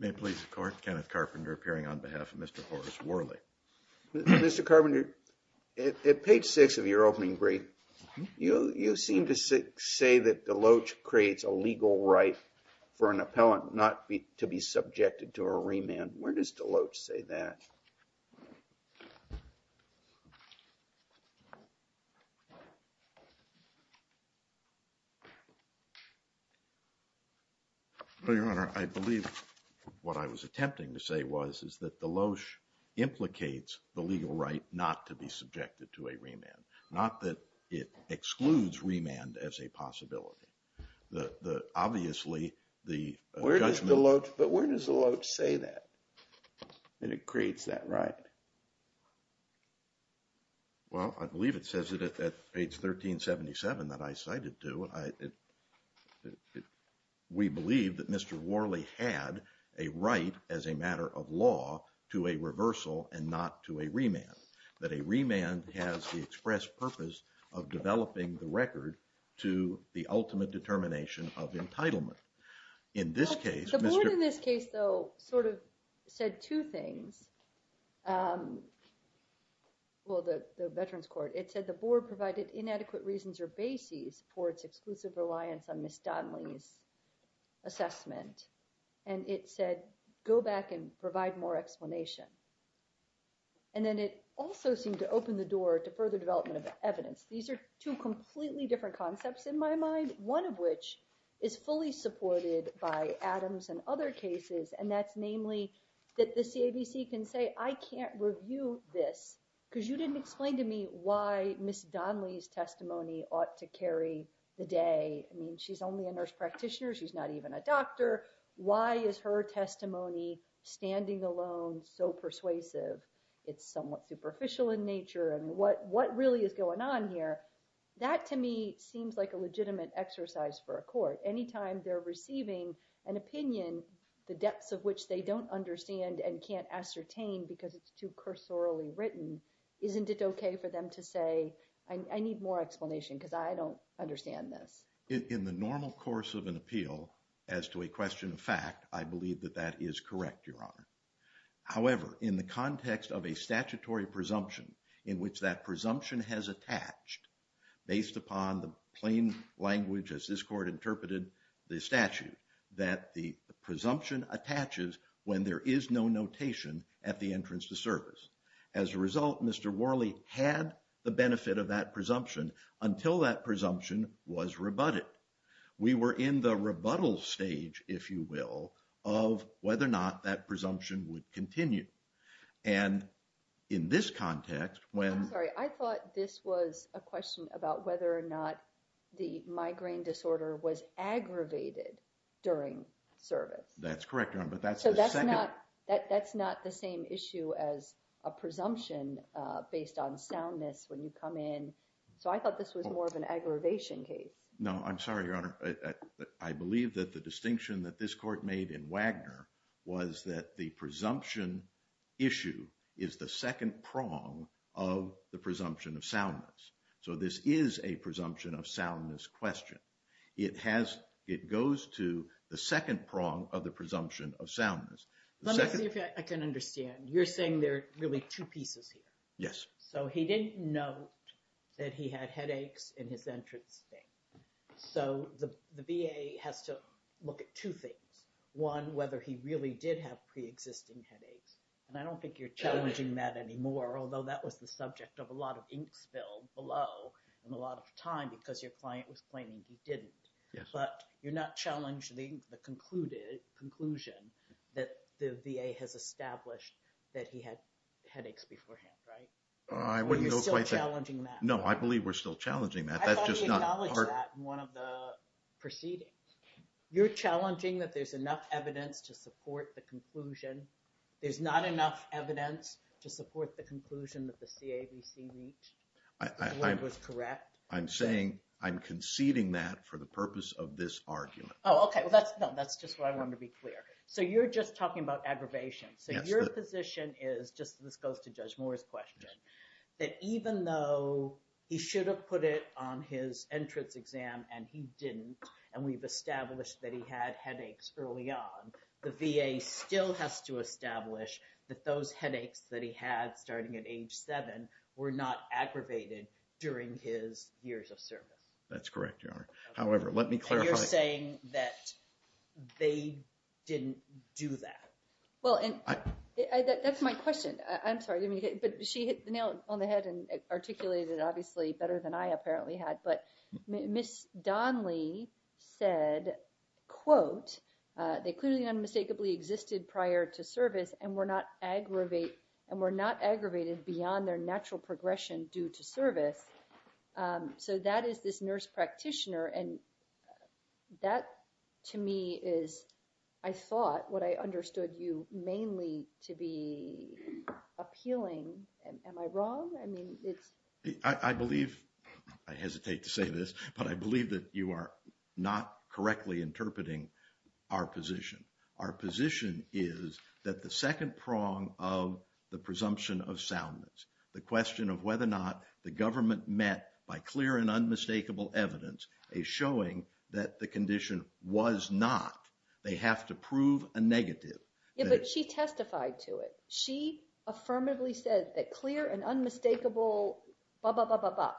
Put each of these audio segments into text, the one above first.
May please the court. Kenneth Carpenter appearing on behalf of Mr. Horace Worley. Mr. Carpenter, at page six of your opening brief, you seem to say that Deloach creates a legal right for an appellant not to be subjected to a remand. Where does Deloach say that? Well, Your Honor, I believe what I was attempting to say was, is that Deloach implicates the legal right not to be subjected to a remand. Not that it excludes remand as a possibility. The, the, obviously the judgment. But where does Deloach say that? And it creates that right? Well, I believe it says it at page 1377 that I cited to it. We believe that Mr. Worley had a right as a matter of law to a reversal and not to a remand that a remand has the express purpose of developing the record to the ultimate determination of entitlement. In this case, in this case, though, sort of said two things. Well, the, the veterans court, it said the board provided inadequate reasons or bases for its exclusive reliance on Miss Donnelly's assessment. And it said, go back and provide more explanation. And then it also seemed to open the door to further development of evidence. These are two completely different concepts in my mind. One of which is fully supported by Adams and other cases. And that's namely that the can say, I can't review this because you didn't explain to me why Miss Donnelly's testimony ought to carry the day. I mean, she's only a nurse practitioner. She's not even a doctor. Why is her testimony standing alone? So persuasive. It's somewhat superficial in nature. And what what really is going on here? That to me seems like a legitimate exercise for a court. Anytime they're receiving an opinion, the depths of which they don't understand and can't ascertain because it's too cursorily written. Isn't it okay for them to say, I need more explanation because I don't understand this in the normal course of an appeal as to a question of fact, I believe that that is correct. Your Honor, however, in the context of a statutory presumption in which that presumption has attached based upon the plain language, as this court interpreted the statute. That the presumption attaches when there is no notation at the entrance to service. As a result, Mr. Worley had the benefit of that presumption until that presumption was rebutted. We were in the rebuttal stage, if you will, of whether or not that presumption would continue. And in this context, when... I'm sorry, I thought this was a question about whether or not the migraine disorder was aggravated during service. That's correct, Your Honor, but that's the second... So that's not the same issue as a presumption based on soundness when you come in. So I thought this was more of an aggravation case. No, I'm sorry, Your Honor. I believe that the distinction that this court made in Wagner was that the presumption issue is the second prong of the presumption of soundness. So this is a presumption of soundness question. It goes to the second prong of the presumption of soundness. Let me see if I can understand. You're saying there are really two pieces here. Yes. So he didn't note that he had headaches in his entrance thing. So the VA has to look at two things. One, whether he really did have pre-existing headaches. And I don't think you're challenging that anymore, although that was the subject of a lot of ink spilled below in a lot of time because your client was claiming he didn't. Yes. But you're not challenging the conclusion that the VA has established that he had headaches beforehand, right? I wouldn't go quite there. Are you still challenging that? No, I believe we're still challenging that. That's just not part... I thought you acknowledged that in one of the proceedings. You're challenging that there's enough evidence to support the conclusion. There's not enough evidence to support the conclusion that the CAVC reached. I... The word was correct. I'm saying I'm conceding that for the purpose of this argument. Oh, okay. Well, that's... No, that's just what I wanted to be clear. So you're just talking about aggravation. Yes. So your position is, just this goes to Judge Moore's question, that even though he should have put it on his entrance exam and he didn't, and we've established that he had headaches early on, the VA still has to establish that those headaches that he had starting at age seven were not aggravated during his years of service. That's correct, Your Honor. However, let me clarify... And you're saying that they didn't do that. Well, and that's my question. I'm sorry, but she hit the nail on the head and articulated it obviously better than I apparently had. But Ms. Donley said, quote, they clearly unmistakably existed prior to service and were not aggravated beyond their natural progression due to service. So that is this nurse practitioner, and that to me is, I thought, what I understood you mainly to be appealing. Am I wrong? I mean, it's... I'm afraid that you are not correctly interpreting our position. Our position is that the second prong of the presumption of soundness, the question of whether or not the government met by clear and unmistakable evidence, is showing that the condition was not. They have to prove a negative. Yeah, but she testified to it. She affirmatively said that clear and unmistakable, blah, blah, blah, blah, blah.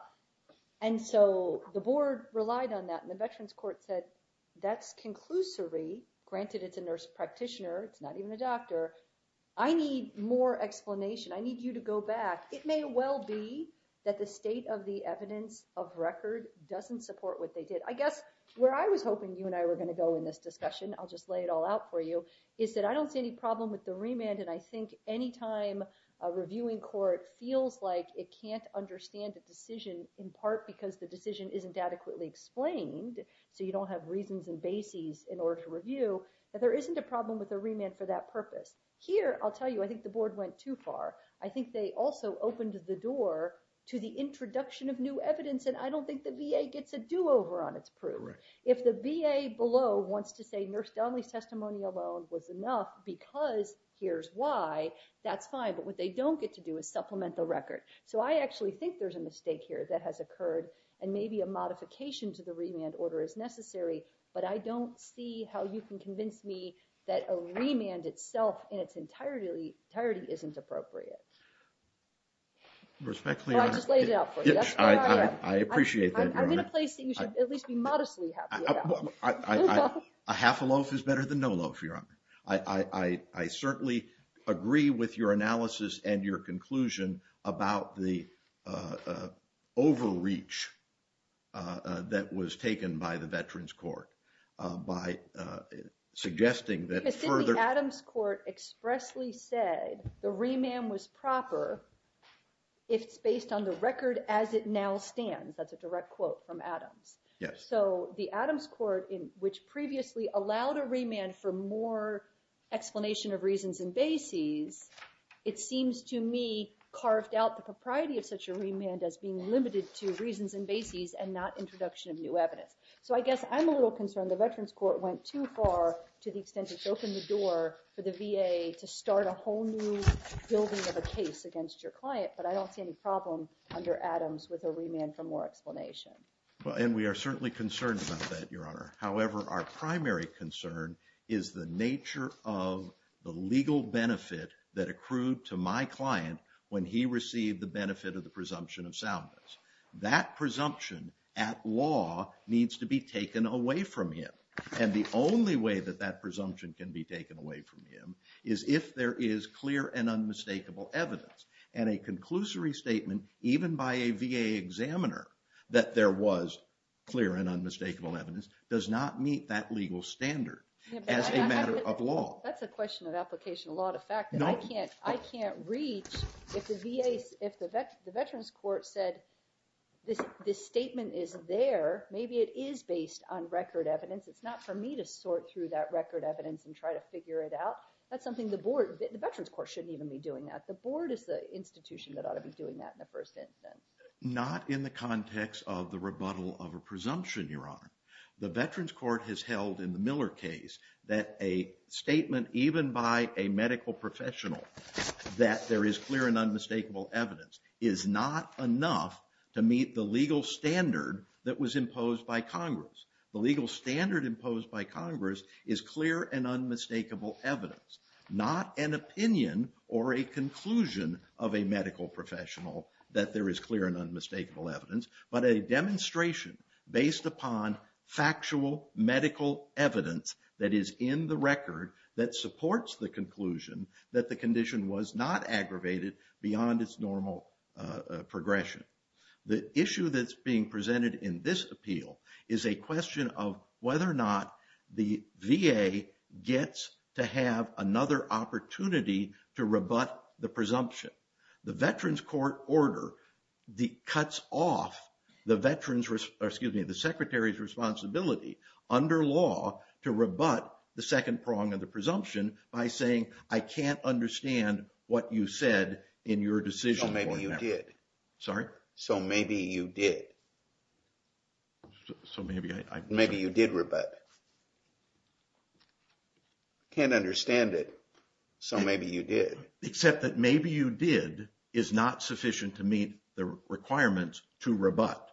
And so the board relied on that, and the Veterans Court said, that's conclusory. Granted, it's a nurse practitioner. It's not even a doctor. I need more explanation. I need you to go back. It may well be that the state of the evidence of record doesn't support what they did. I guess where I was hoping you and I were going to go in this discussion, I'll just lay it all out for you, is that I don't see any problem with the remand. And I think anytime a reviewing court feels like it can't understand the decision, in part, because the decision isn't adequately explained. So you don't have reasons and bases in order to review, that there isn't a problem with a remand for that purpose. Here, I'll tell you, I think the board went too far. I think they also opened the door to the introduction of new evidence, and I don't think the VA gets a do-over on its proof. If the VA below wants to say Nurse Donnelly's testimony alone was enough because here's why, that's fine. But what they don't get to do is supplement the record. So I actually think there's a mistake here that has occurred, and maybe a modification to the remand order is necessary, but I don't see how you can convince me that a remand itself in its entirety isn't appropriate. Respectfully... I'll just lay it out for you. I appreciate that, Your Honor. I'm in a place that you should at least be modestly happy about. A half a loaf is better than no loaf, Your Honor. I certainly agree with your analysis and your conclusion about the overreach that was taken by the Veterans Court by suggesting that further... If it's based on the record as it now stands, that's a direct quote from Adams. Yes. So the Adams Court, which previously allowed a remand for more explanation of reasons and bases, it seems to me carved out the propriety of such a remand as being limited to reasons and bases and not introduction of new evidence. So I guess I'm a little concerned the Veterans Court went too far to the extent it's opened the door for the VA to start a whole new building of a case against your client, but I don't see any problem under Adams with a remand for more explanation. And we are certainly concerned about that, Your Honor. However, our primary concern is the nature of the legal benefit that accrued to my client when he received the benefit of the presumption of soundness. That presumption at law needs to be taken away from him. And the only way that that presumption can be taken away from him is if there is clear and unmistakable evidence. And a conclusory statement, even by a VA examiner, that there was clear and unmistakable evidence does not meet that legal standard as a matter of law. That's a question of application of law to fact that I can't reach if the Veterans Court said this statement is there. Maybe it is based on record evidence. It's not for me to sort through that record evidence and try to figure it out. That's something the board, the Veterans Court, shouldn't even be doing that. The board is the institution that ought to be doing that in the first instance. Not in the context of the rebuttal of a presumption, Your Honor. The Veterans Court has held in the Miller case that a statement even by a medical professional that there is clear and unmistakable evidence is not enough to meet the legal standard that was imposed by Congress. The legal standard imposed by Congress is clear and unmistakable evidence. Not an opinion or a conclusion of a medical professional that there is clear and unmistakable evidence, but a demonstration based upon factual medical evidence that is in the record that supports the conclusion that the condition was not aggravated beyond its normal progression. The issue that's being presented in this appeal is a question of whether or not the VA gets to have another opportunity to rebut the presumption. The Veterans Court order cuts off the Secretary's responsibility under law to rebut the second prong of the presumption by saying, I can't understand what you said in your decision. So maybe you did. Sorry? So maybe you did. So maybe I... Maybe you did rebut. Can't understand it. So maybe you did. Except that maybe you did is not sufficient to meet the requirements to rebut.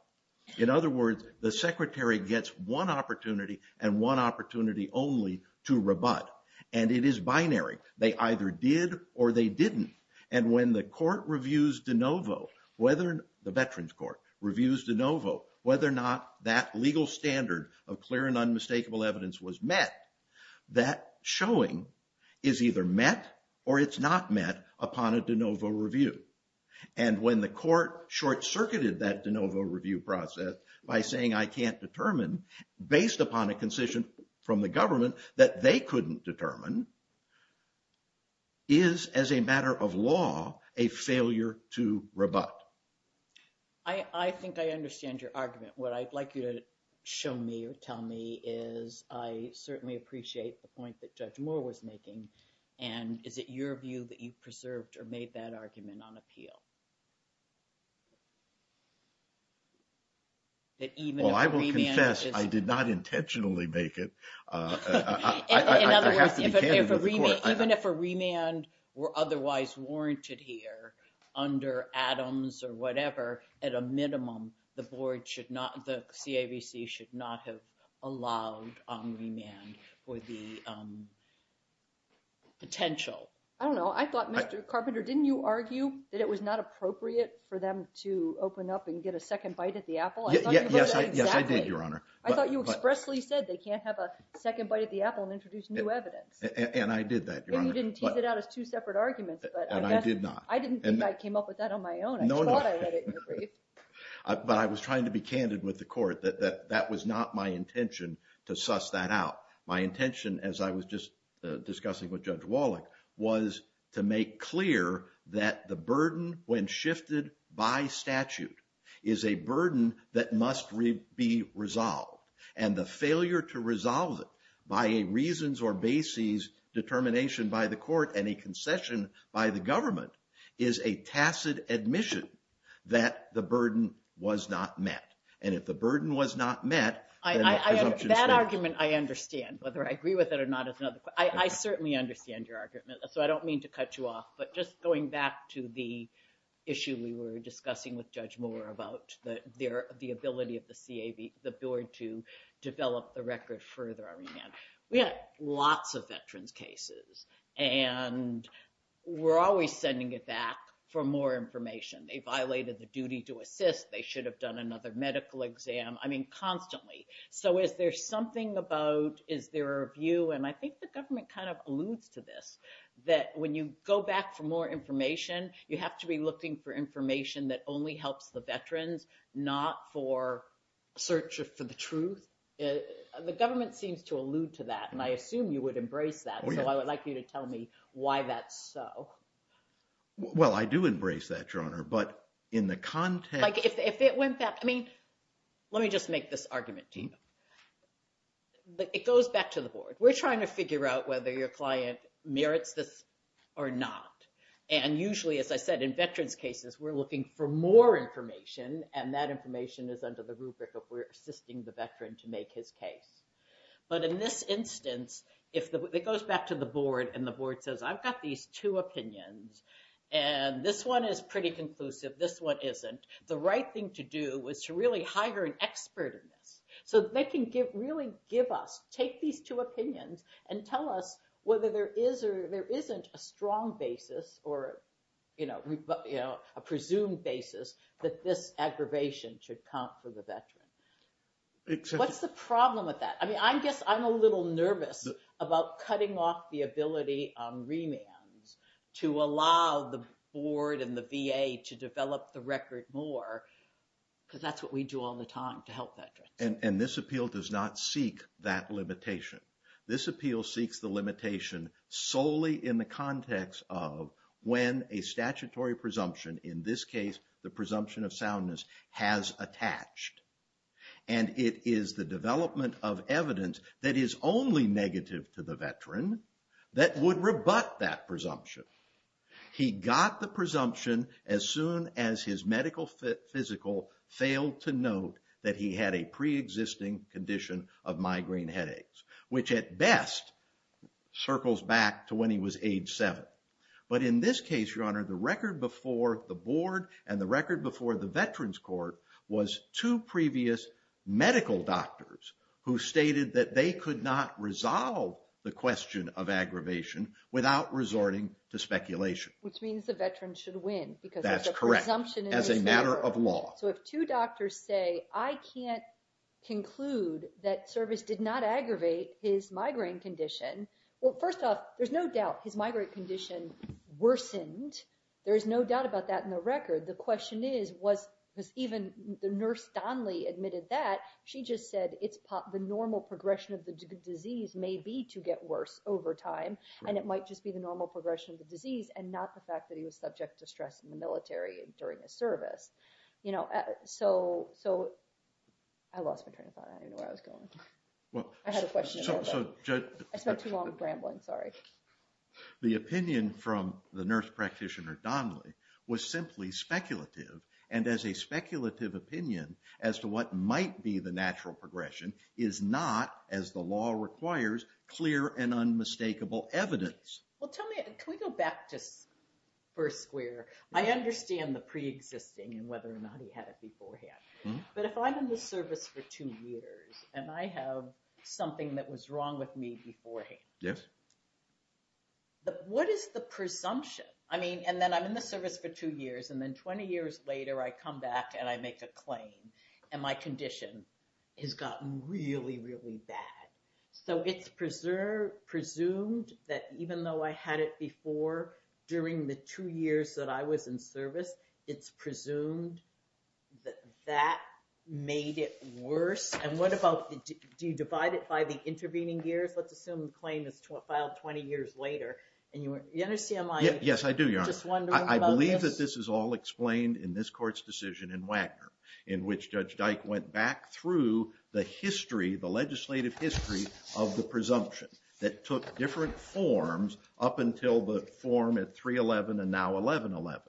In other words, the Secretary gets one opportunity and one opportunity only to rebut. And it is binary. They either did or they didn't. And when the court reviews de novo, whether the Veterans Court reviews de novo, whether or not that legal standard of clear and unmistakable evidence was met, that showing is either met or it's not met upon a de novo review. And when the court short-circuited that de novo review process by saying, I can't determine, based upon a concession from the government that they couldn't determine, is, as a matter of law, a failure to rebut. I think I understand your argument. What I'd like you to show me or tell me is I certainly appreciate the point that Judge Moore was making. And is it your view that you preserved or made that argument on appeal? Well, I will confess I did not intentionally make it. In other words, even if a remand were otherwise warranted here under Adams or whatever, at a minimum, the board should not, the CAVC should not have allowed on remand for the potential. I don't know. I thought, Mr. Carpenter, didn't you argue that it was not appropriate for them to open up and get a second bite at the apple? Yes, I did, Your Honor. I thought you expressly said they can't have a second bite at the apple and introduce new evidence. And I did that, Your Honor. And you didn't tease it out as two separate arguments. And I did not. I didn't think I came up with that on my own. No, no. I thought I read it in the brief. But I was trying to be candid with the court that that was not my intention to suss that out. My intention, as I was just discussing with Judge Wallach, was to make clear that the burden, when shifted by statute, is a burden that must be resolved. And the failure to resolve it by a reasons or bases determination by the court and a concession by the government is a tacit admission that the burden was not met. And if the burden was not met, then the presumption is not met. That argument I understand, whether I agree with it or not is another question. I certainly understand your argument. So I don't mean to cut you off. But just going back to the issue we were discussing with Judge Moore about the ability of the board to develop the record further, we had lots of veterans' cases. And we're always sending it back for more information. They violated the duty to assist. They should have done another medical exam. I mean, constantly. So is there something about, is there a view, and I think the government kind of alludes to this, that when you go back for more information, you have to be looking for information that only helps the veterans, not for search for the truth? The government seems to allude to that. And I assume you would embrace that. So I would like you to tell me why that's so. Well, I do embrace that, Your Honor. But in the context. If it went back, I mean, let me just make this argument to you. It goes back to the board. We're trying to figure out whether your client merits this or not. And usually, as I said, in veterans' cases, we're looking for more information, and that information is under the rubric of we're assisting the veteran to make his case. But in this instance, it goes back to the board, and the board says, I've got these two opinions, and this one is pretty conclusive. This one isn't. The right thing to do is to really hire an expert in this so that they can really give us, take these two opinions and tell us whether there is or there isn't a strong basis or a presumed basis that this aggravation should count for the veteran. What's the problem with that? I mean, I guess I'm a little nervous about cutting off the ability on remands to allow the board and the VA to develop the record more because that's what we do all the time to help veterans. And this appeal does not seek that limitation. This appeal seeks the limitation solely in the context of when a statutory presumption, in this case, the presumption of soundness, has attached. And it is the development of evidence that is only negative to the veteran that would rebut that presumption. He got the presumption as soon as his medical physical failed to note that he had a preexisting condition of migraine headaches, which at best circles back to when he was age seven. But in this case, Your Honor, the record before the board and the record before the veterans court was two previous medical doctors who stated that they could not resolve the question of aggravation without resorting to speculation. Which means the veteran should win because there's a presumption in this case. That's correct. As a matter of law. So if two doctors say, I can't conclude that service did not aggravate his migraine condition. Well, first off, there's no doubt his migraine condition worsened. There is no doubt about that in the record. The question is, was even the nurse Donnelly admitted that she just said it's the normal progression of the disease may be to get worse over time. And it might just be the normal progression of the disease and not the fact that he was subject to stress in the military during his service. You know, so, so I lost my train of thought. I didn't know where I was going. Well, I had a question. I spent too long rambling. Sorry. The opinion from the nurse practitioner Donnelly was simply speculative. And as a speculative opinion as to what might be the natural progression is not, as the law requires, clear and unmistakable evidence. Well, tell me, can we go back to first square? I understand the preexisting and whether or not he had it beforehand. But if I'm in the service for two years and I have something that was wrong with me beforehand. Yes. What is the presumption? I mean, and then I'm in the service for two years and then 20 years later, I come back and I make a claim. And my condition has gotten really, really bad. So it's preserved, presumed that even though I had it before, during the two years that I was in service, it's presumed that that made it worse. And what about, do you divide it by the intervening years? Let's assume the claim is filed 20 years later. And you understand my just wondering about this? Yes, I do, Your Honor. I believe that this is all explained in this court's decision in Wagner, in which Judge Dyke went back through the history, the legislative history, of the presumption. That took different forms up until the form at 311 and now 1111.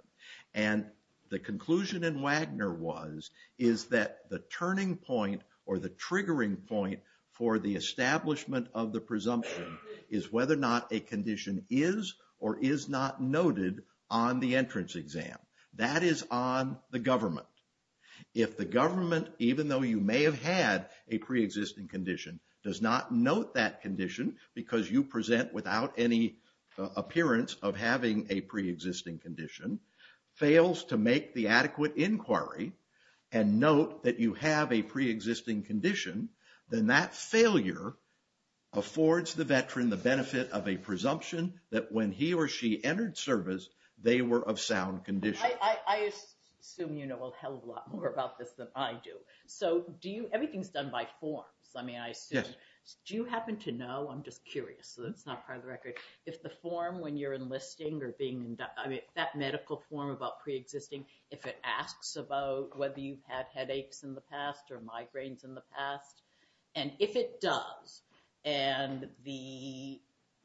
And the conclusion in Wagner was, is that the turning point or the triggering point for the establishment of the presumption is whether or not a condition is or is not noted on the entrance exam. That is on the government. If the government, even though you may have had a preexisting condition, does not note that condition because you present without any appearance of having a preexisting condition, fails to make the adequate inquiry and note that you have a preexisting condition, then that failure affords the veteran the benefit of a presumption that when he or she entered service, they were of sound condition. I assume you know a hell of a lot more about this than I do. So do you, everything's done by forms. I mean, I assume. Do you happen to know, I'm just curious, so that's not part of the record, if the form when you're enlisting or being, that medical form about preexisting, if it asks about whether you've had headaches in the past or migraines in the past. And if it does, and the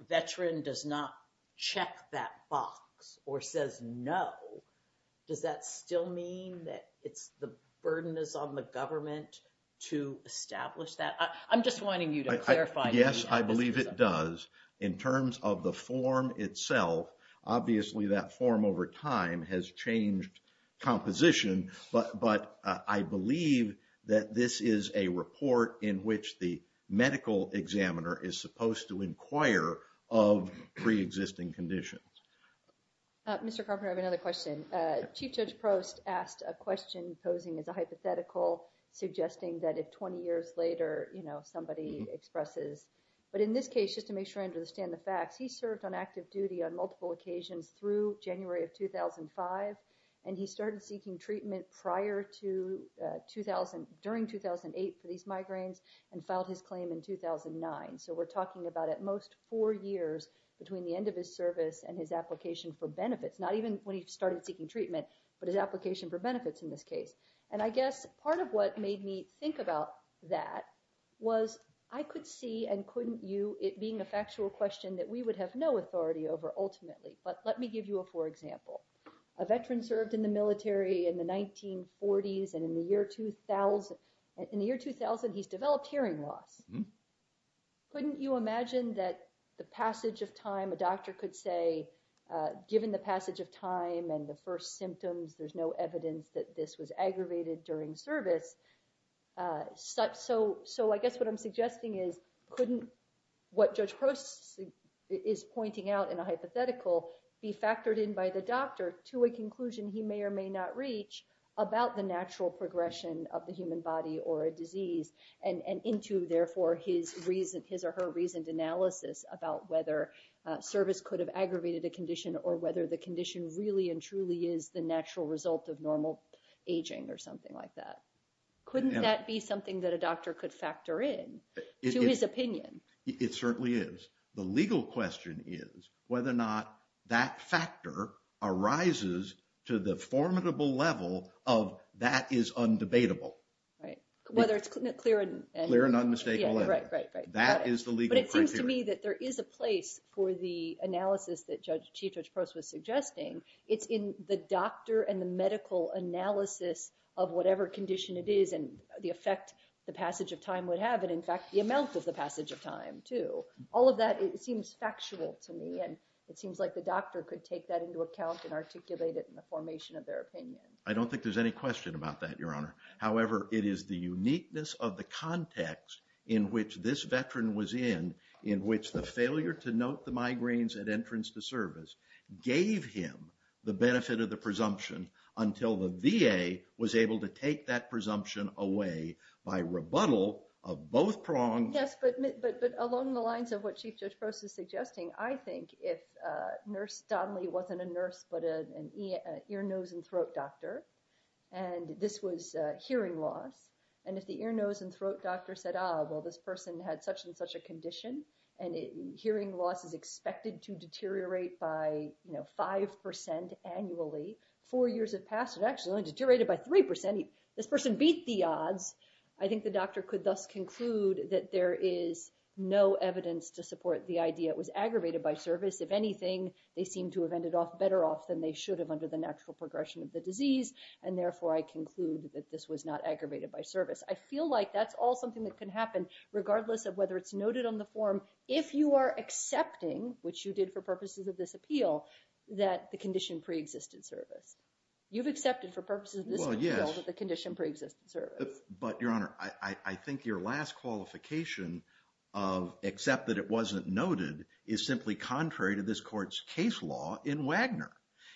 veteran does not check that box or says no, does that still mean that it's the burden is on the government to establish that? I'm just wanting you to clarify. Yes, I believe it does. In terms of the form itself, obviously that form over time has changed composition, but I believe that this is a report in which the medical examiner is supposed to inquire of preexisting conditions. Mr. Carpenter, I have another question. Chief Judge Prost asked a question posing as a hypothetical, suggesting that if 20 years later, you know, somebody expresses, but in this case, just to make sure I understand the facts, he served on active duty on multiple occasions through January of 2005. And he started seeking treatment prior to 2000, during 2008 for these migraines and filed his claim in 2009. So we're talking about at most four years between the end of his service and his application for benefits, not even when he started seeking treatment, but his application for benefits in this case. And I guess part of what made me think about that was I could see and couldn't you, it being a factual question that we would have no authority over ultimately. But let me give you a, for example, a veteran served in the military in the 1940s and in the year 2000, he's developed hearing loss. Couldn't you imagine that the passage of time, a doctor could say, given the passage of time and the first symptoms, there's no evidence that this was aggravated during service. So, I guess what I'm suggesting is couldn't what Judge Prost is pointing out in a hypothetical be factored in by the doctor to a conclusion he may or may not reach about the natural progression of the human body or a disease and into, therefore, his reason, his or her reasoned analysis about whether service could have aggravated a condition or whether the condition really and truly is the natural result of normal aging or something like that. Couldn't that be something that a doctor could factor in to his opinion? It certainly is. The legal question is whether or not that factor arises to the formidable level of that is undebatable. Right. Whether it's clear and. Clear and unmistakable. Right, right, right. That is the legal criteria. It seems to me that there is a place for the analysis that Chief Judge Prost was suggesting. It's in the doctor and the medical analysis of whatever condition it is and the effect the passage of time would have and, in fact, the amount of the passage of time, too. All of that seems factual to me, and it seems like the doctor could take that into account and articulate it in the formation of their opinion. I don't think there's any question about that, Your Honor. However, it is the uniqueness of the context in which this veteran was in, in which the failure to note the migraines at entrance to service gave him the benefit of the presumption until the VA was able to take that presumption away by rebuttal of both prongs. Yes, but along the lines of what Chief Judge Prost is suggesting, I think if Nurse Donnelly wasn't a nurse but an ear, nose, and throat doctor, and this was hearing loss, and if the ear, nose, and throat doctor said, Well, this person had such and such a condition, and hearing loss is expected to deteriorate by 5% annually. Four years have passed, and it actually only deteriorated by 3%. This person beat the odds. I think the doctor could thus conclude that there is no evidence to support the idea it was aggravated by service. If anything, they seem to have ended off better off than they should have under the natural progression of the disease, and therefore I conclude that this was not aggravated by service. I feel like that's all something that can happen regardless of whether it's noted on the form if you are accepting, which you did for purposes of this appeal, that the condition preexisted service. You've accepted for purposes of this appeal that the condition preexisted service. But, Your Honor, I think your last qualification of except that it wasn't noted is simply contrary to this court's case law in Wagner.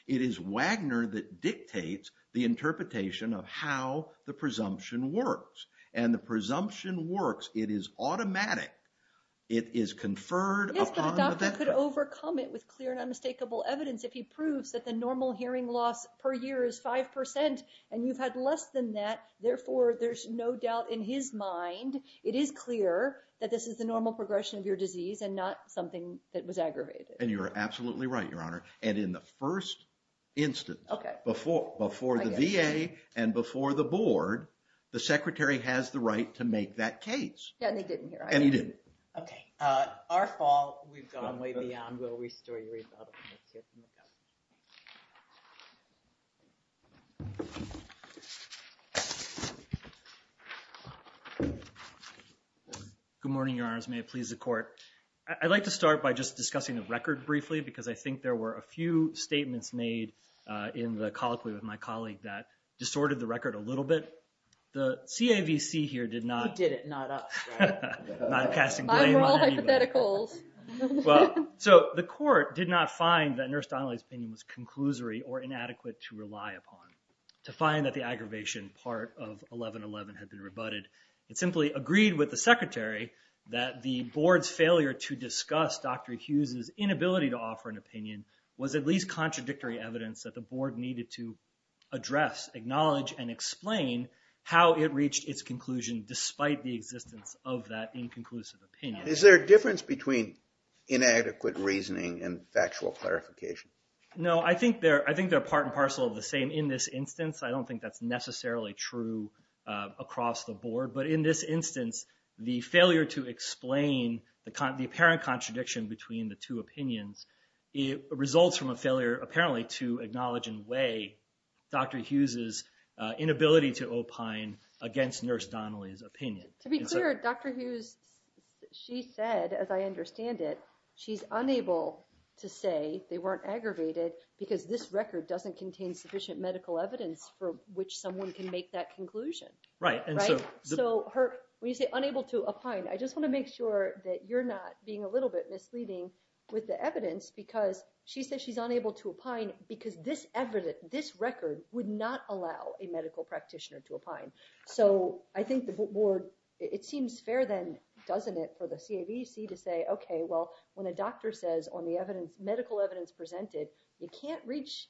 It is Wagner that dictates the interpretation of how the presumption works, and the presumption works. It is automatic. It is conferred upon the doctor. Yes, but a doctor could overcome it with clear and unmistakable evidence if he proves that the normal hearing loss per year is 5%, and you've had less than that. Therefore, there's no doubt in his mind it is clear that this is the normal progression of your disease and not something that was aggravated. And you're absolutely right, Your Honor. And in the first instance, before the VA and before the board, the secretary has the right to make that case. And he didn't, right? And he didn't. Okay. Our fault. We've gone way beyond. We'll restore your rebuttal. Good morning, Your Honors. May it please the court. I'd like to start by just discussing the record briefly because I think there were a few statements made in the colloquy with my colleague that distorted the record a little bit. The CAVC here did not. He did it, not us. Not passing blame on anybody. Well, so the court did not find that Nurse Donnelly's opinion was conclusory or inadequate to rely upon. To find that the aggravation part of 1111 had been rebutted. It simply agreed with the secretary that the board's failure to discuss Dr. Hughes' inability to offer an opinion was at least contradictory evidence that the board needed to address, acknowledge, and explain how it reached its conclusion despite the existence of that inconclusive opinion. Is there a difference between inadequate reasoning and factual clarification? No. I think they're part and parcel of the same in this instance. I don't think that's necessarily true across the board. But in this instance, the failure to explain the apparent contradiction between the two opinions results from a failure, apparently, to acknowledge and weigh Dr. Hughes' inability to opine against Nurse Donnelly's opinion. To be clear, Dr. Hughes, she said, as I understand it, she's unable to say they weren't aggravated because this record doesn't contain sufficient medical evidence for which someone can make that conclusion. Right. So when you say unable to opine, I just want to make sure that you're not being a little bit misleading with the evidence because she says she's unable to opine because this record would not allow a medical practitioner to opine. So I think the board, it seems fair then, doesn't it, for the CAVC to say, OK, well, when a doctor says on the medical evidence presented, you can't reach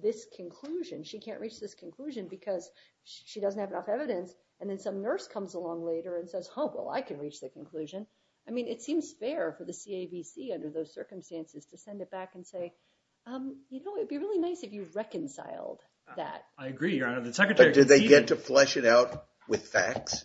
this conclusion. She can't reach this conclusion because she doesn't have enough evidence. And then some nurse comes along later and says, oh, well, I can reach the conclusion. I mean, it seems fair for the CAVC under those circumstances to send it back and say, you know, it'd be really nice if you reconciled that. I agree, Your Honor. But did they get to flesh it out with facts?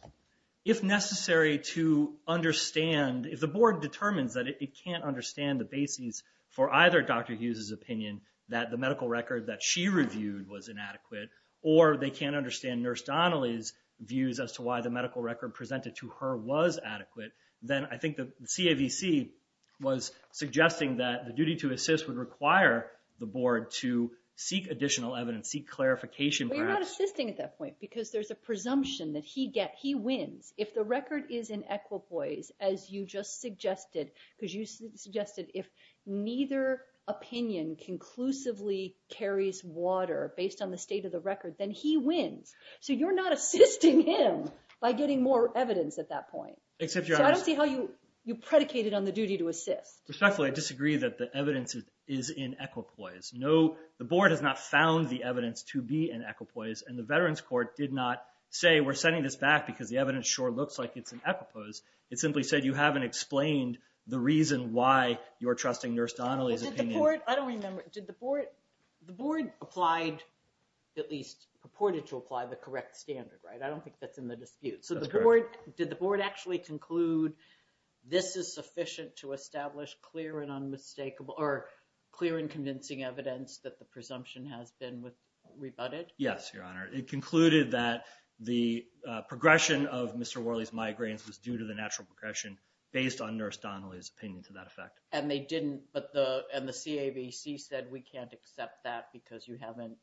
If necessary to understand, if the board determines that it can't understand the basis for either Dr. Hughes's opinion that the medical record that she reviewed was inadequate or they can't understand Nurse Donnelly's views as to why the medical record presented to her was adequate, then I think the CAVC was suggesting that the duty to assist would require the board to seek additional evidence, seek clarification perhaps. But you're not assisting at that point because there's a presumption that he wins. If the record is in equipoise, as you just suggested, because you suggested if neither opinion conclusively carries water based on the state of the record, then he wins. So you're not assisting him by getting more evidence at that point. So I don't see how you predicated on the duty to assist. Respectfully, I disagree that the evidence is in equipoise. The board has not found the evidence to be in equipoise. And the Veterans Court did not say we're sending this back because the evidence sure looks like it's in equipoise. It simply said you haven't explained the reason why you're trusting Nurse Donnelly's opinion. I don't remember. Did the board at least purported to apply the correct standard, right? I don't think that's in the dispute. That's correct. Did the board actually conclude this is sufficient to establish clear and convincing evidence that the presumption has been rebutted? Yes, Your Honor. It concluded that the progression of Mr. Worley's migraines was due to the natural progression based on Nurse Donnelly's opinion to that effect. And they didn't. And the CABC said we can't accept that because you haven't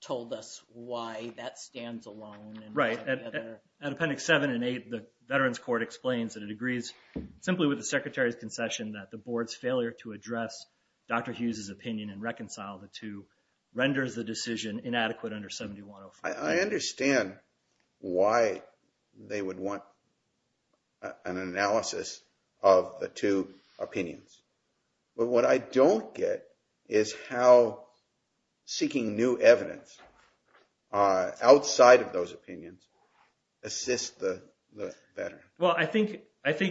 told us why that stands alone. Right. And Appendix 7 and 8, the Veterans Court explains that it agrees simply with the Secretary's concession that the board's failure to address Dr. Hughes's opinion and reconcile the two renders the decision inadequate under 7105. I understand why they would want an analysis of the two opinions. But what I don't get is how seeking new evidence outside of those opinions assists the veteran. Well, I think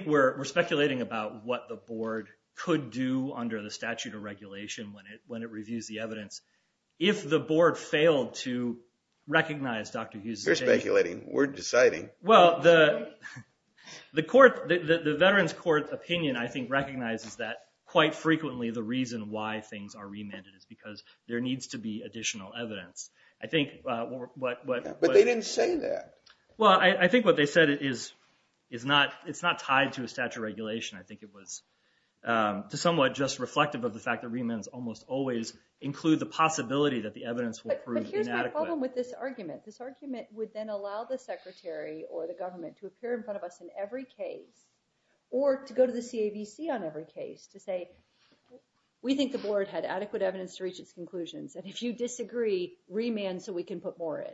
we're speculating about what the board could do under the statute of regulation when it reviews the evidence. If the board failed to recognize Dr. Hughes's opinion. You're speculating. We're deciding. Well, the Veterans Court opinion, I think, recognizes that quite frequently the reason why things are remanded is because there needs to be additional evidence. But they didn't say that. Well, I think what they said is it's not tied to a statute of regulation. I think it was somewhat just reflective of the fact that remands almost always include the possibility that the evidence will prove inadequate. But here's my problem with this argument. This argument would then allow the Secretary or the government to appear in front of us in every case or to go to the CAVC on every case to say, we think the board had adequate evidence to reach its conclusions. And if you disagree, remand so we can put more in.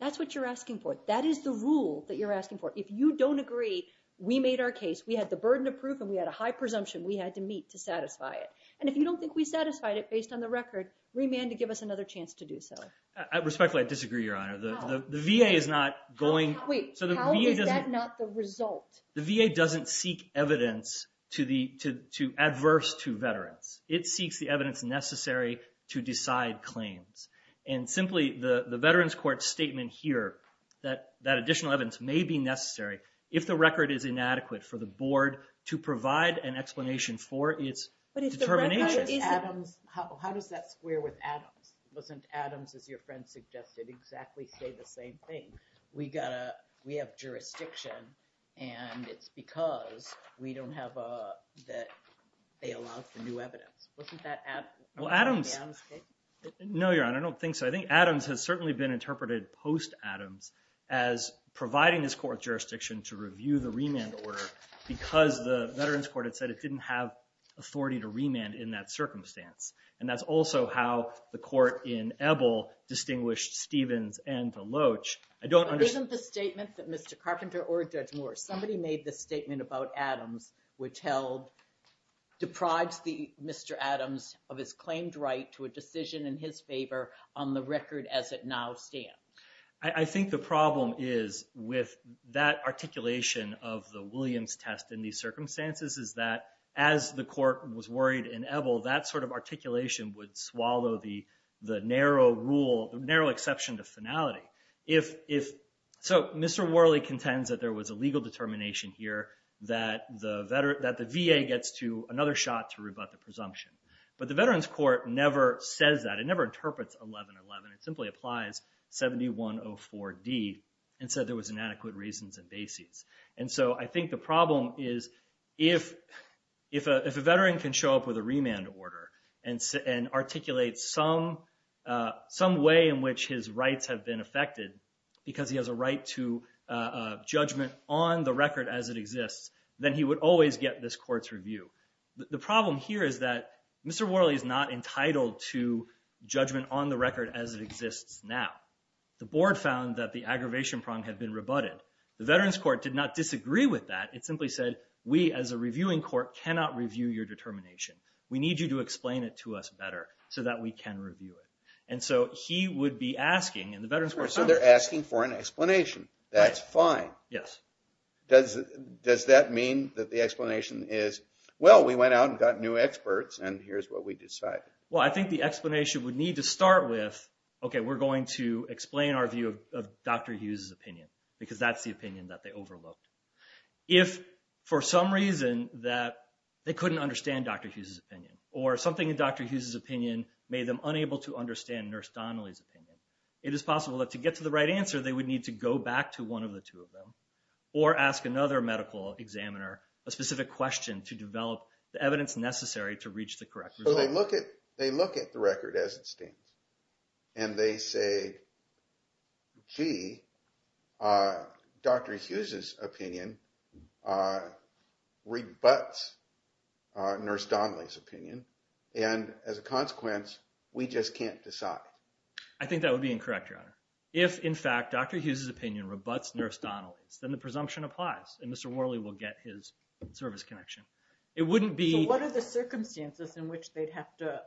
That's what you're asking for. That is the rule that you're asking for. If you don't agree, we made our case. We had the burden of proof and we had a high presumption we had to meet to satisfy it. And if you don't think we satisfied it based on the record, remand to give us another chance to do so. Respectfully, I disagree, Your Honor. The VA is not going. Wait, how is that not the result? The VA doesn't seek evidence adverse to veterans. It seeks the evidence necessary to decide claims. And simply, the Veterans Court statement here, that additional evidence may be necessary if the record is inadequate for the board to provide an explanation for its determination. But if the record is Adams, how does that square with Adams? Doesn't Adams, as your friend suggested, exactly say the same thing? We have jurisdiction and it's because we don't have a, that they allow for new evidence. Wasn't that Adams? Well, Adams. No, Your Honor, I don't think so. I think Adams has certainly been interpreted post-Adams as providing this court jurisdiction to review the remand order because the Veterans Court had said it didn't have authority to remand in that circumstance. And that's also how the court in Ebel distinguished Stevens and the Loach. But isn't the statement that Mr. Carpenter or Judge Moore, somebody made this statement about Adams, which held, deprives Mr. Adams of his claimed right to a decision in his favor on the record as it now stands. I think the problem is with that articulation of the Williams test in these circumstances is that as the court was worried in Ebel, that sort of articulation would swallow the narrow rule, the narrow exception to finality. So Mr. Worley contends that there was a legal determination here that the VA gets to another shot to rebut the presumption. But the Veterans Court never says that. It never interprets 1111. It simply applies 7104D and said there was inadequate reasons and bases. And so I think the problem is if a veteran can show up with a remand order and articulate some way in which his rights have been affected because he has a right to judgment on the record as it exists, then he would always get this court's review. The problem here is that Mr. Worley is not entitled to judgment on the record as it exists now. The board found that the aggravation prong had been rebutted. The Veterans Court did not disagree with that. It simply said we as a reviewing court cannot review your determination. We need you to explain it to us better so that we can review it. And so he would be asking and the Veterans Court. So they're asking for an explanation. That's fine. Yes. Does that mean that the explanation is, well, we went out and got new experts and here's what we decided? Well, I think the explanation would need to start with, okay, we're going to explain our view of Dr. Hughes' opinion because that's the opinion that they overlooked. If for some reason that they couldn't understand Dr. Hughes' opinion or something in Dr. Hughes' opinion made them unable to understand Nurse Donnelly's opinion, it is possible that to get to the right answer, they would need to go back to one of the two of them. Or ask another medical examiner a specific question to develop the evidence necessary to reach the correct result. So they look at the record as it stands and they say, gee, Dr. Hughes' opinion rebuts Nurse Donnelly's opinion. And as a consequence, we just can't decide. If, in fact, Dr. Hughes' opinion rebuts Nurse Donnelly's, then the presumption applies and Mr. Worley will get his service connection. It wouldn't be... So what are the circumstances in which they'd have to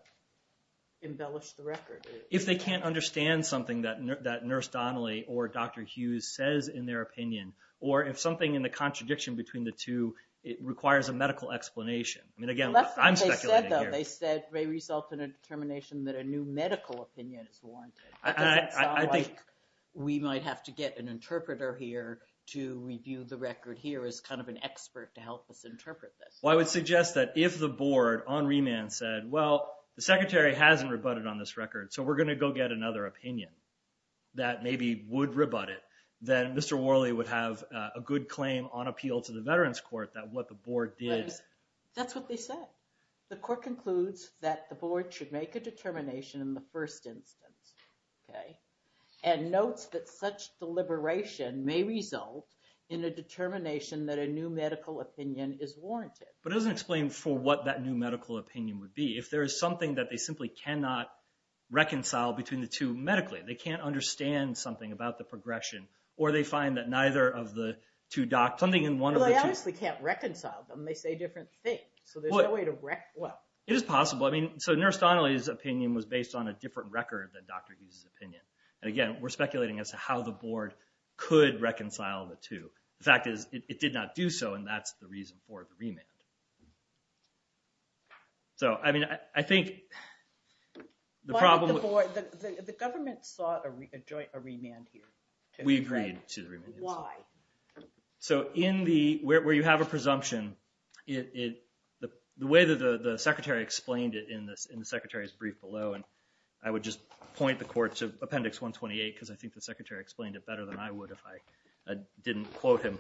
embellish the record? If they can't understand something that Nurse Donnelly or Dr. Hughes says in their opinion or if something in the contradiction between the two requires a medical explanation. I mean, again, I'm speculating here. They said may result in a determination that a new medical opinion is warranted. I think we might have to get an interpreter here to review the record here as kind of an expert to help us interpret this. Well, I would suggest that if the board on remand said, well, the secretary hasn't rebutted on this record. So we're going to go get another opinion that maybe would rebut it. Then Mr. Worley would have a good claim on appeal to the Veterans Court that what the board did. That's what they said. The court concludes that the board should make a determination in the first instance and notes that such deliberation may result in a determination that a new medical opinion is warranted. But it doesn't explain for what that new medical opinion would be. If there is something that they simply cannot reconcile between the two medically. They can't understand something about the progression or they find that neither of the two doctors... Well, they obviously can't reconcile them. They say different things. It is possible. I mean, so Nurse Donnelly's opinion was based on a different record than Dr. Hughes' opinion. And again, we're speculating as to how the board could reconcile the two. The fact is it did not do so and that's the reason for the remand. I mean, I think the problem... The government sought a joint remand here. We agreed to the remand. Why? So where you have a presumption, the way that the secretary explained it in the secretary's brief below, and I would just point the court to Appendix 128 because I think the secretary explained it better than I would if I didn't quote him,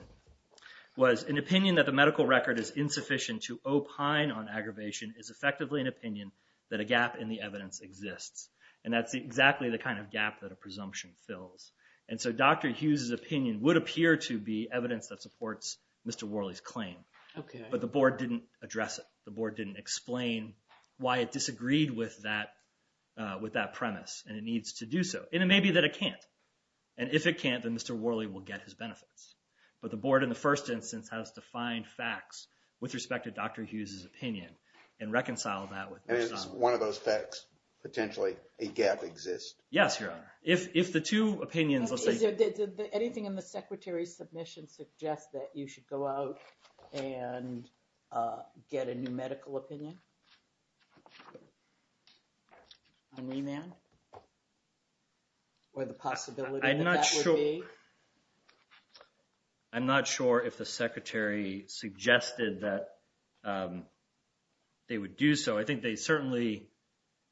was an opinion that the medical record is insufficient to opine on aggravation is effectively an opinion that a gap in the evidence exists. And that's exactly the kind of gap that a presumption fills. And so Dr. Hughes' opinion would appear to be evidence that supports Mr. Worley's claim. Okay. But the board didn't address it. The board didn't explain why it disagreed with that premise and it needs to do so. And it may be that it can't. And if it can't, then Mr. Worley will get his benefits. But the board in the first instance has defined facts with respect to Dr. Hughes' opinion and reconciled that with Nurse Donnelly. Yes, Your Honor. If the two opinions… Did anything in the secretary's submission suggest that you should go out and get a new medical opinion on remand? Or the possibility that that would be? I'm not sure. I'm not sure if the secretary suggested that they would do so. I think they certainly…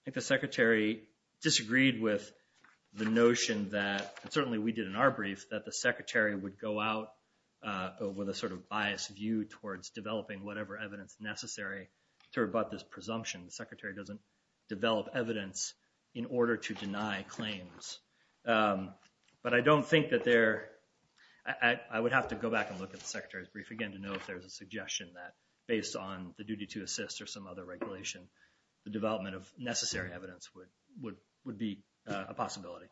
I think the secretary disagreed with the notion that… And certainly we did in our brief that the secretary would go out with a sort of biased view towards developing whatever evidence necessary to rebut this presumption. The secretary doesn't develop evidence in order to deny claims. But I don't think that there… I would have to go back and look at the secretary's brief again to know if there's a suggestion that based on the duty to assist or some other regulation, the development of necessary evidence would be a possibility.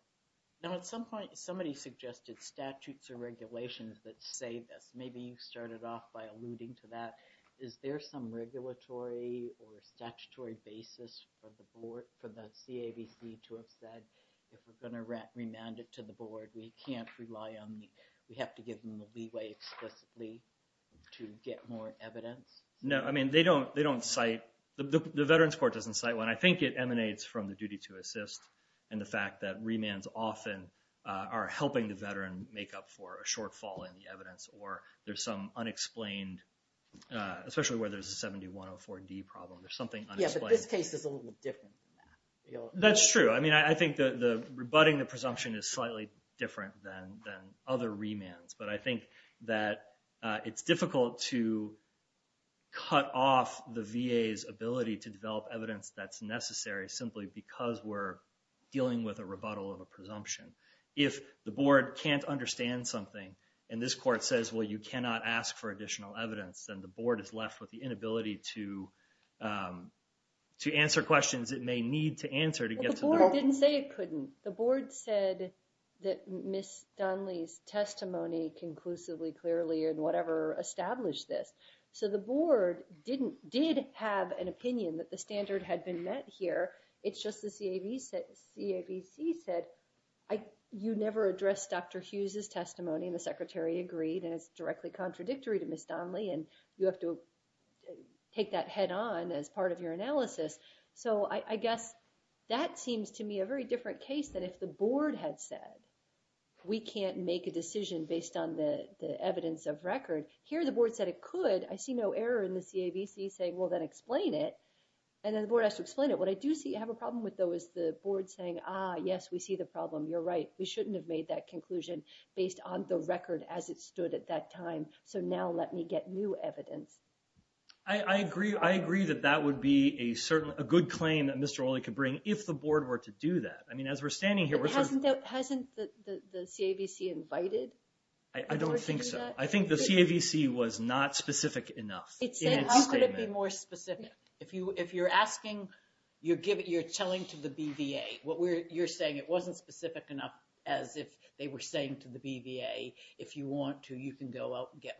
Now at some point, somebody suggested statutes or regulations that say this. Maybe you started off by alluding to that. Is there some regulatory or statutory basis for the board, for the CAVC to have said if we're going to remand it to the board, we can't rely on the… We have to give them the leeway explicitly to get more evidence? No. I mean, they don't cite… The Veterans Court doesn't cite one. Especially where there's a 7104D problem. There's something unexplained. Yeah, but this case is a little different than that. That's true. I mean, I think the rebutting the presumption is slightly different than other remands. But I think that it's difficult to cut off the VA's ability to develop evidence that's necessary simply because we're dealing with a rebuttal of a presumption. If the board can't understand something and this court says, well, you cannot ask for additional evidence, then the board is left with the inability to answer questions it may need to answer to get to the… Well, the board didn't say it couldn't. The board said that Ms. Dunley's testimony conclusively, clearly, and whatever established this. So the board did have an opinion that the standard had been met here. It's just the CAVC said, you never addressed Dr. Hughes' testimony, and the secretary agreed, and it's directly contradictory to Ms. Dunley, and you have to take that head-on as part of your analysis. So I guess that seems to me a very different case than if the board had said we can't make a decision based on the evidence of record. Here the board said it could. I see no error in the CAVC saying, well, then explain it. And then the board has to explain it. What I do see I have a problem with, though, is the board saying, ah, yes, we see the problem. You're right. We shouldn't have made that conclusion based on the record as it stood at that time. So now let me get new evidence. I agree. I agree that that would be a good claim that Mr. Oley could bring if the board were to do that. I mean, as we're standing here… Hasn't the CAVC invited? I don't think so. I think the CAVC was not specific enough in its statement. How could it be more specific? If you're asking, you're telling to the BVA. You're saying it wasn't specific enough as if they were saying to the BVA, if you want to, you can go out and get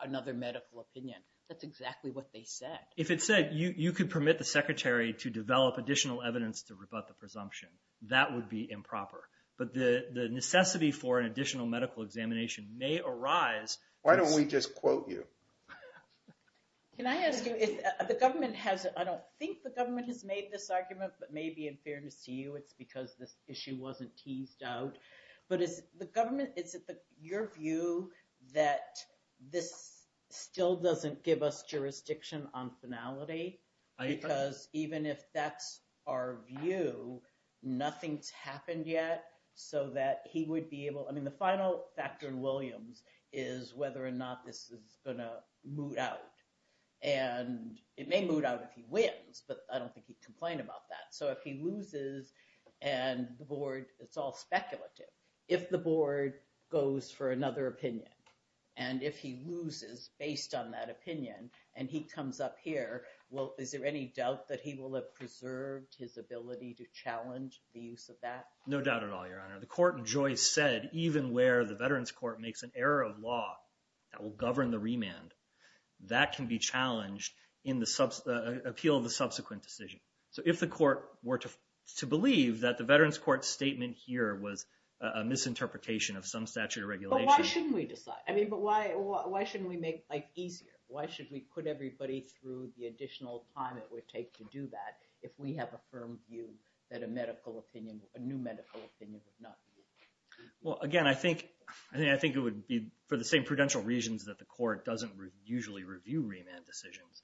another medical opinion. That's exactly what they said. If it said you could permit the secretary to develop additional evidence to rebut the presumption, that would be improper. But the necessity for an additional medical examination may arise. Why don't we just quote you? Can I ask you, if the government has… I don't think the government has made this argument, but maybe in fairness to you, it's because this issue wasn't teased out. But is the government… Is it your view that this still doesn't give us jurisdiction on finality? Because even if that's our view, nothing's happened yet so that he would be able… I mean, the final factor in Williams is whether or not this is going to moot out. And it may moot out if he wins, but I don't think he'd complain about that. So if he loses and the board… It's all speculative. If the board goes for another opinion and if he loses based on that opinion and he comes up here, well, is there any doubt that he will have preserved his ability to challenge the use of that? No doubt at all, Your Honor. The court in Joyce said even where the Veterans Court makes an error of law that will govern the remand, that can be challenged in the appeal of the subsequent decision. So if the court were to believe that the Veterans Court statement here was a misinterpretation of some statute of regulation… But why shouldn't we decide? I mean, but why shouldn't we make life easier? Why should we put everybody through the additional time it would take to do that if we have a firm view that a medical opinion, a new medical opinion would not be used? Well, again, I think it would be for the same prudential reasons that the court doesn't usually review remand decisions.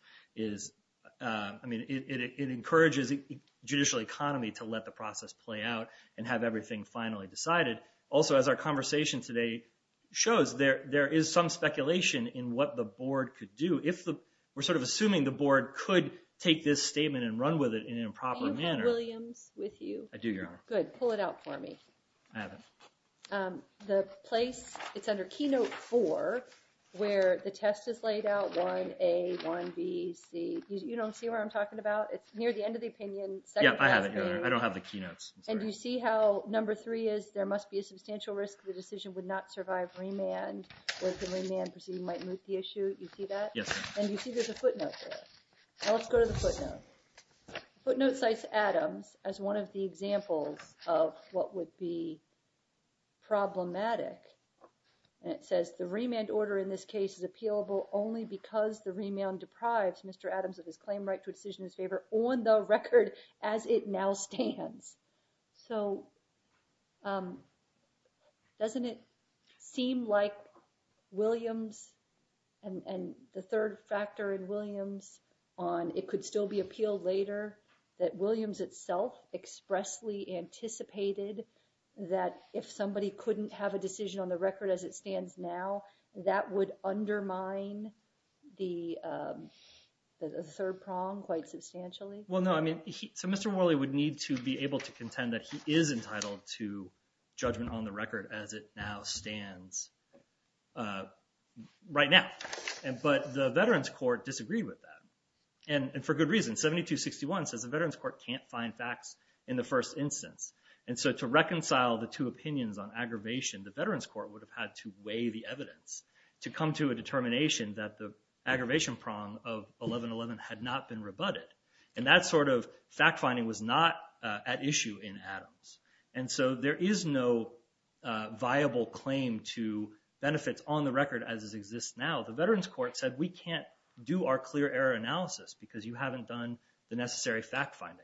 I mean, it encourages judicial economy to let the process play out and have everything finally decided. Also, as our conversation today shows, there is some speculation in what the board could do. We're sort of assuming the board could take this statement and run with it in an improper manner. Do you have Williams with you? I do, Your Honor. Good. Pull it out for me. I have it. The place, it's under Keynote 4 where the test is laid out, 1A, 1B, C. You don't see where I'm talking about? It's near the end of the opinion. Yeah, I have it, Your Honor. I don't have the keynotes. And do you see how number three is there must be a substantial risk the decision would not survive remand, where the remand proceeding might moot the issue? You see that? Yes. And you see there's a footnote there. Now, let's go to the footnote. The footnote cites Adams as one of the examples of what would be problematic, and it says the remand order in this case is appealable only because the remand deprives Mr. Adams of his claim right to a decision in his favor on the record as it now stands. So doesn't it seem like Williams and the third factor in Williams on it could still be appealed later, that Williams itself expressly anticipated that if somebody couldn't have a decision on the record as it stands now, that would undermine the third prong quite substantially? Well, no. So Mr. Morley would need to be able to contend that he is entitled to judgment on the record as it now stands right now. But the Veterans Court disagreed with that, and for good reason. 7261 says the Veterans Court can't find facts in the first instance. And so to reconcile the two opinions on aggravation, the Veterans Court would have had to weigh the evidence to come to a determination that the aggravation prong of 1111 had not been rebutted. And that sort of fact-finding was not at issue in Adams. And so there is no viable claim to benefits on the record as it exists now. The Veterans Court said we can't do our clear error analysis because you haven't done the necessary fact-finding.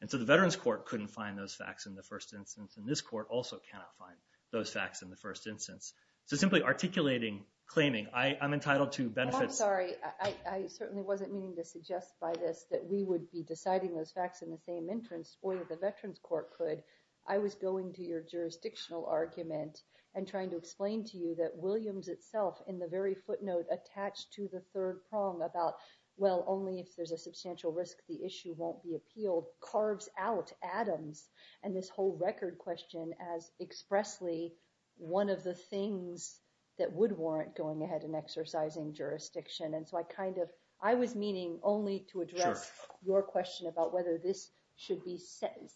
And so the Veterans Court couldn't find those facts in the first instance, and this court also cannot find those facts in the first instance. So simply articulating, claiming, I'm entitled to benefits. I'm sorry. I certainly wasn't meaning to suggest by this that we would be deciding those facts in the same entrance, or the Veterans Court could. I was going to your jurisdictional argument and trying to explain to you that Williams itself, in the very footnote attached to the third prong about, well, only if there's a substantial risk the issue won't be appealed, carves out Adams and this whole record question as expressly one of the things that would warrant going ahead and exercising jurisdiction. And so I kind of, I was meaning only to address your question about whether this should be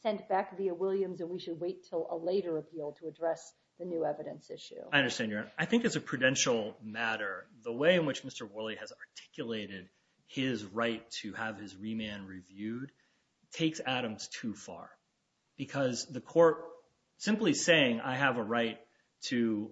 sent back via Williams and we should wait until a later appeal to address the new evidence issue. I understand, Your Honor. I think as a prudential matter, the way in which Mr. Worley has articulated his right to have his remand reviewed takes Adams too far. Because the court, simply saying I have a right to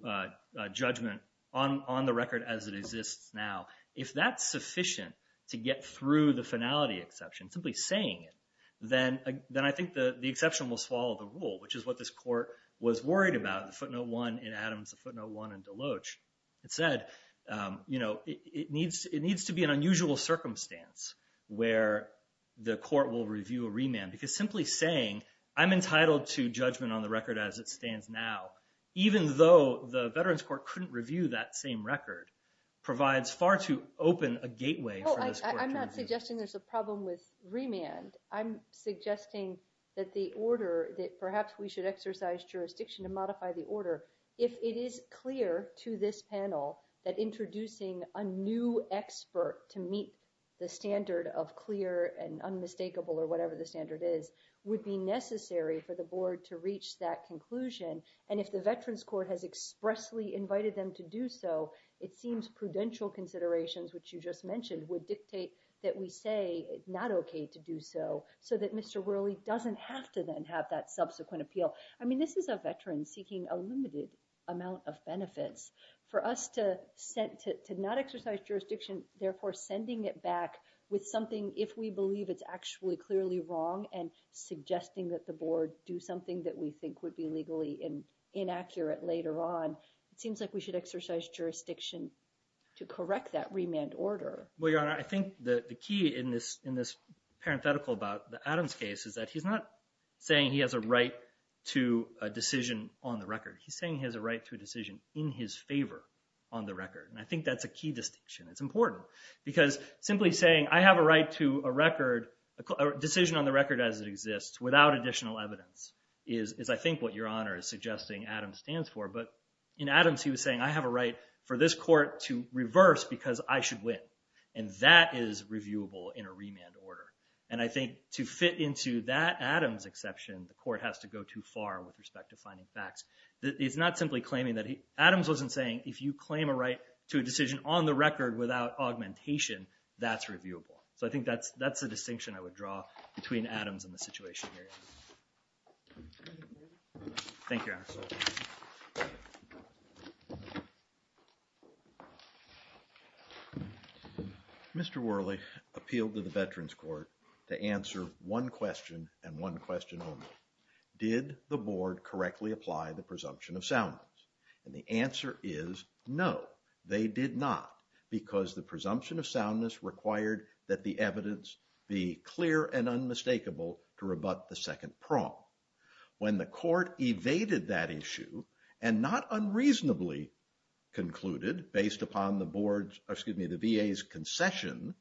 judgment on the record as it exists now, if that's sufficient to get through the finality exception, simply saying it, then I think the exception will swallow the rule, which is what this court was worried about, the footnote one in Adams, the footnote one in DeLoach. It said, you know, it needs to be an unusual circumstance where the court will review a remand. Because simply saying I'm entitled to judgment on the record as it stands now, even though the Veterans Court couldn't review that same record, provides far too open a gateway for this court to review. I'm not suggesting there's a problem with remand. I'm suggesting that the order, that perhaps we should exercise jurisdiction to modify the order. However, if it is clear to this panel that introducing a new expert to meet the standard of clear and unmistakable or whatever the standard is, would be necessary for the board to reach that conclusion. And if the Veterans Court has expressly invited them to do so, it seems prudential considerations, which you just mentioned, would dictate that we say it's not okay to do so, so that Mr. Worley doesn't have to then have that subsequent appeal. I mean, this is a veteran seeking a limited amount of benefits. For us to not exercise jurisdiction, therefore sending it back with something if we believe it's actually clearly wrong and suggesting that the board do something that we think would be legally inaccurate later on, it seems like we should exercise jurisdiction to correct that remand order. Well, Your Honor, I think the key in this parenthetical about Adam's case is that he's not saying he has a right to a decision on the record. He's saying he has a right to a decision in his favor on the record, and I think that's a key distinction. It's important because simply saying I have a right to a record, a decision on the record as it exists, without additional evidence is, I think, what Your Honor is suggesting Adam stands for. But in Adams, he was saying I have a right for this court to reverse because I should win, and that is reviewable in a remand order. And I think to fit into that Adams exception, the court has to go too far with respect to finding facts. It's not simply claiming that he – Adams wasn't saying if you claim a right to a decision on the record without augmentation, that's reviewable. So I think that's the distinction I would draw between Adams and the situation here. Thank you, Your Honor. Mr. Worley appealed to the Veterans Court to answer one question and one question only. Did the board correctly apply the presumption of soundness? And the answer is no, they did not because the presumption of soundness required that the evidence be clear and unmistakable to rebut the sentence. When the court evaded that issue and not unreasonably concluded, based upon the VA's concession,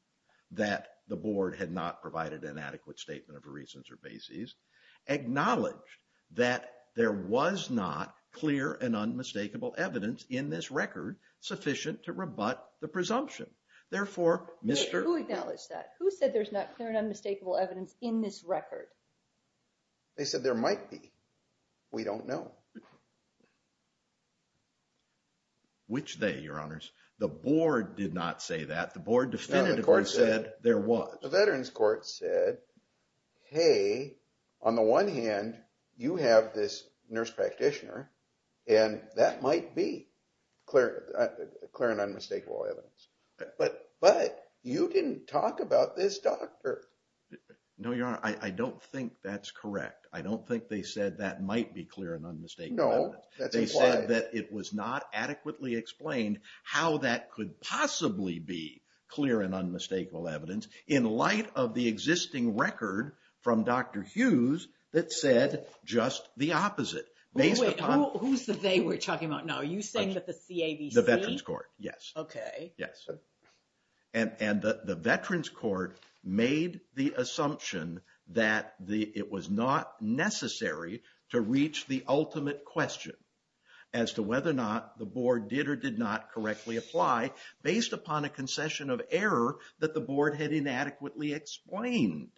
that the board had not provided an adequate statement of reasons or basis, acknowledged that there was not clear and unmistakable evidence in this record sufficient to rebut the presumption. Therefore, Mr. – Who acknowledged that? Who said there's not clear and unmistakable evidence in this record? They said there might be. We don't know. Which they, Your Honors. The board did not say that. The board definitively said there was. The Veterans Court said, hey, on the one hand, you have this nurse practitioner and that might be clear and unmistakable evidence. But you didn't talk about this doctor. No, Your Honor. I don't think that's correct. I don't think they said that might be clear and unmistakable evidence. No, that's implied. They said that it was not adequately explained how that could possibly be clear and unmistakable evidence in light of the existing record from Dr. Hughes that said just the opposite. Wait, who's the they we're talking about now? Are you saying that the CAVC? The Veterans Court, yes. Okay. Yes. And the Veterans Court made the assumption that it was not necessary to reach the ultimate question as to whether or not the board did or did not correctly apply based upon a concession of error that the board had inadequately explained.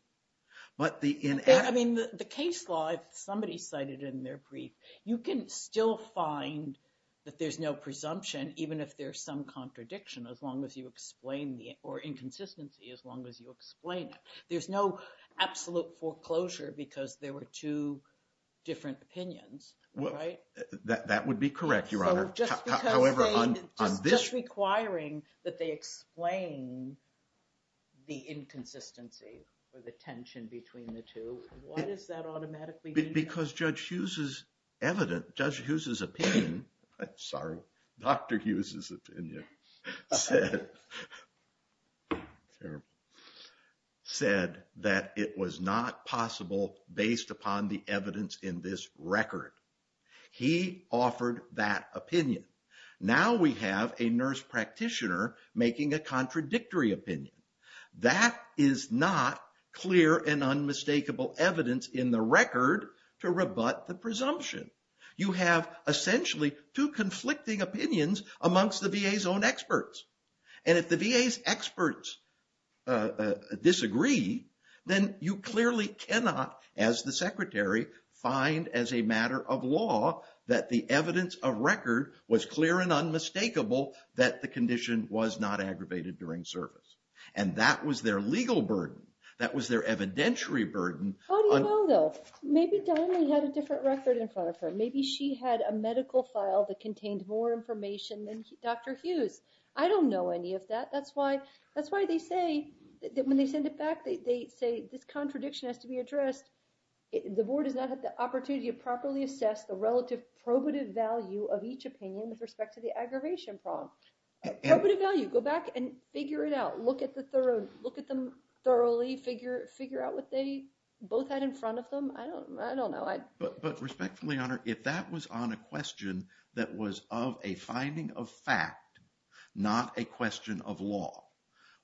I mean, the case law, if somebody cited in their brief, you can still find that there's no presumption even if there's some contradiction as long as you explain it or inconsistency as long as you explain it. There's no absolute foreclosure because there were two different opinions. That would be correct, Your Honor. Just requiring that they explain the inconsistency or the tension between the two. What does that automatically mean? Because Judge Hughes's opinion, sorry, Dr. Hughes's opinion said that it was not possible based upon the evidence in this record. He offered that opinion. Now we have a nurse practitioner making a contradictory opinion. That is not clear and unmistakable evidence in the record to rebut the presumption. You have essentially two conflicting opinions amongst the VA's own experts. If the VA's experts disagree, then you clearly cannot, as the secretary, find as a matter of law that the evidence of record was clear and unmistakable that the condition was not aggravated during service. That was their legal burden. That was their evidentiary burden. How do you know, though? Maybe Donnelly had a different record in front of her. Maybe she had a medical file that contained more information than Dr. Hughes. I don't know any of that. That's why they say that when they send it back, they say this contradiction has to be addressed. The board does not have the opportunity to properly assess the relative probative value of each opinion with respect to the aggravation problem. Probative value, go back and figure it out. Look at them thoroughly. Figure out what they both had in front of them. I don't know. But respectfully, Honor, if that was on a question that was of a finding of fact, not a question of law,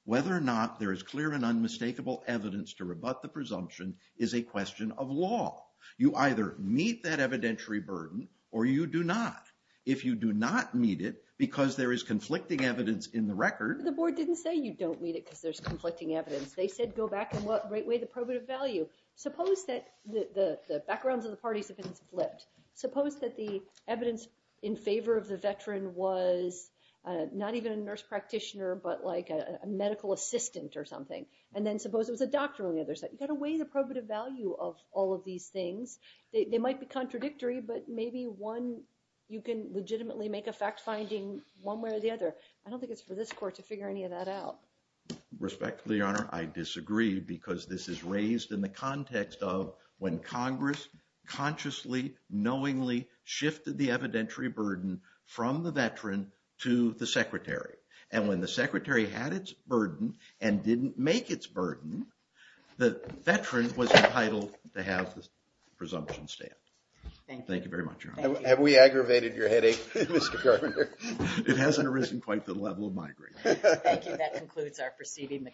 whether or not there is clear and unmistakable evidence to rebut the presumption is a question of law. You either meet that evidentiary burden or you do not. If you do not meet it because there is conflicting evidence in the record. The board didn't say you don't meet it because there's conflicting evidence. They said go back and weigh the probative value. Suppose that the backgrounds of the parties have been split. Suppose that the evidence in favor of the veteran was not even a nurse practitioner but like a medical assistant or something. And then suppose it was a doctor on the other side. You've got to weigh the probative value of all of these things. They might be contradictory, but maybe one you can legitimately make a fact finding one way or the other. I don't think it's for this court to figure any of that out. Respectfully, Honor, I disagree because this is raised in the context of when Congress consciously, knowingly shifted the evidentiary burden from the veteran to the secretary. And when the secretary had its burden and didn't make its burden, the veteran was entitled to have the presumption stand. Thank you. Thank you very much, Your Honor. Have we aggravated your headache, Mr. Carpenter? It hasn't arisen quite to the level of my grade. Thank you. That concludes our proceeding.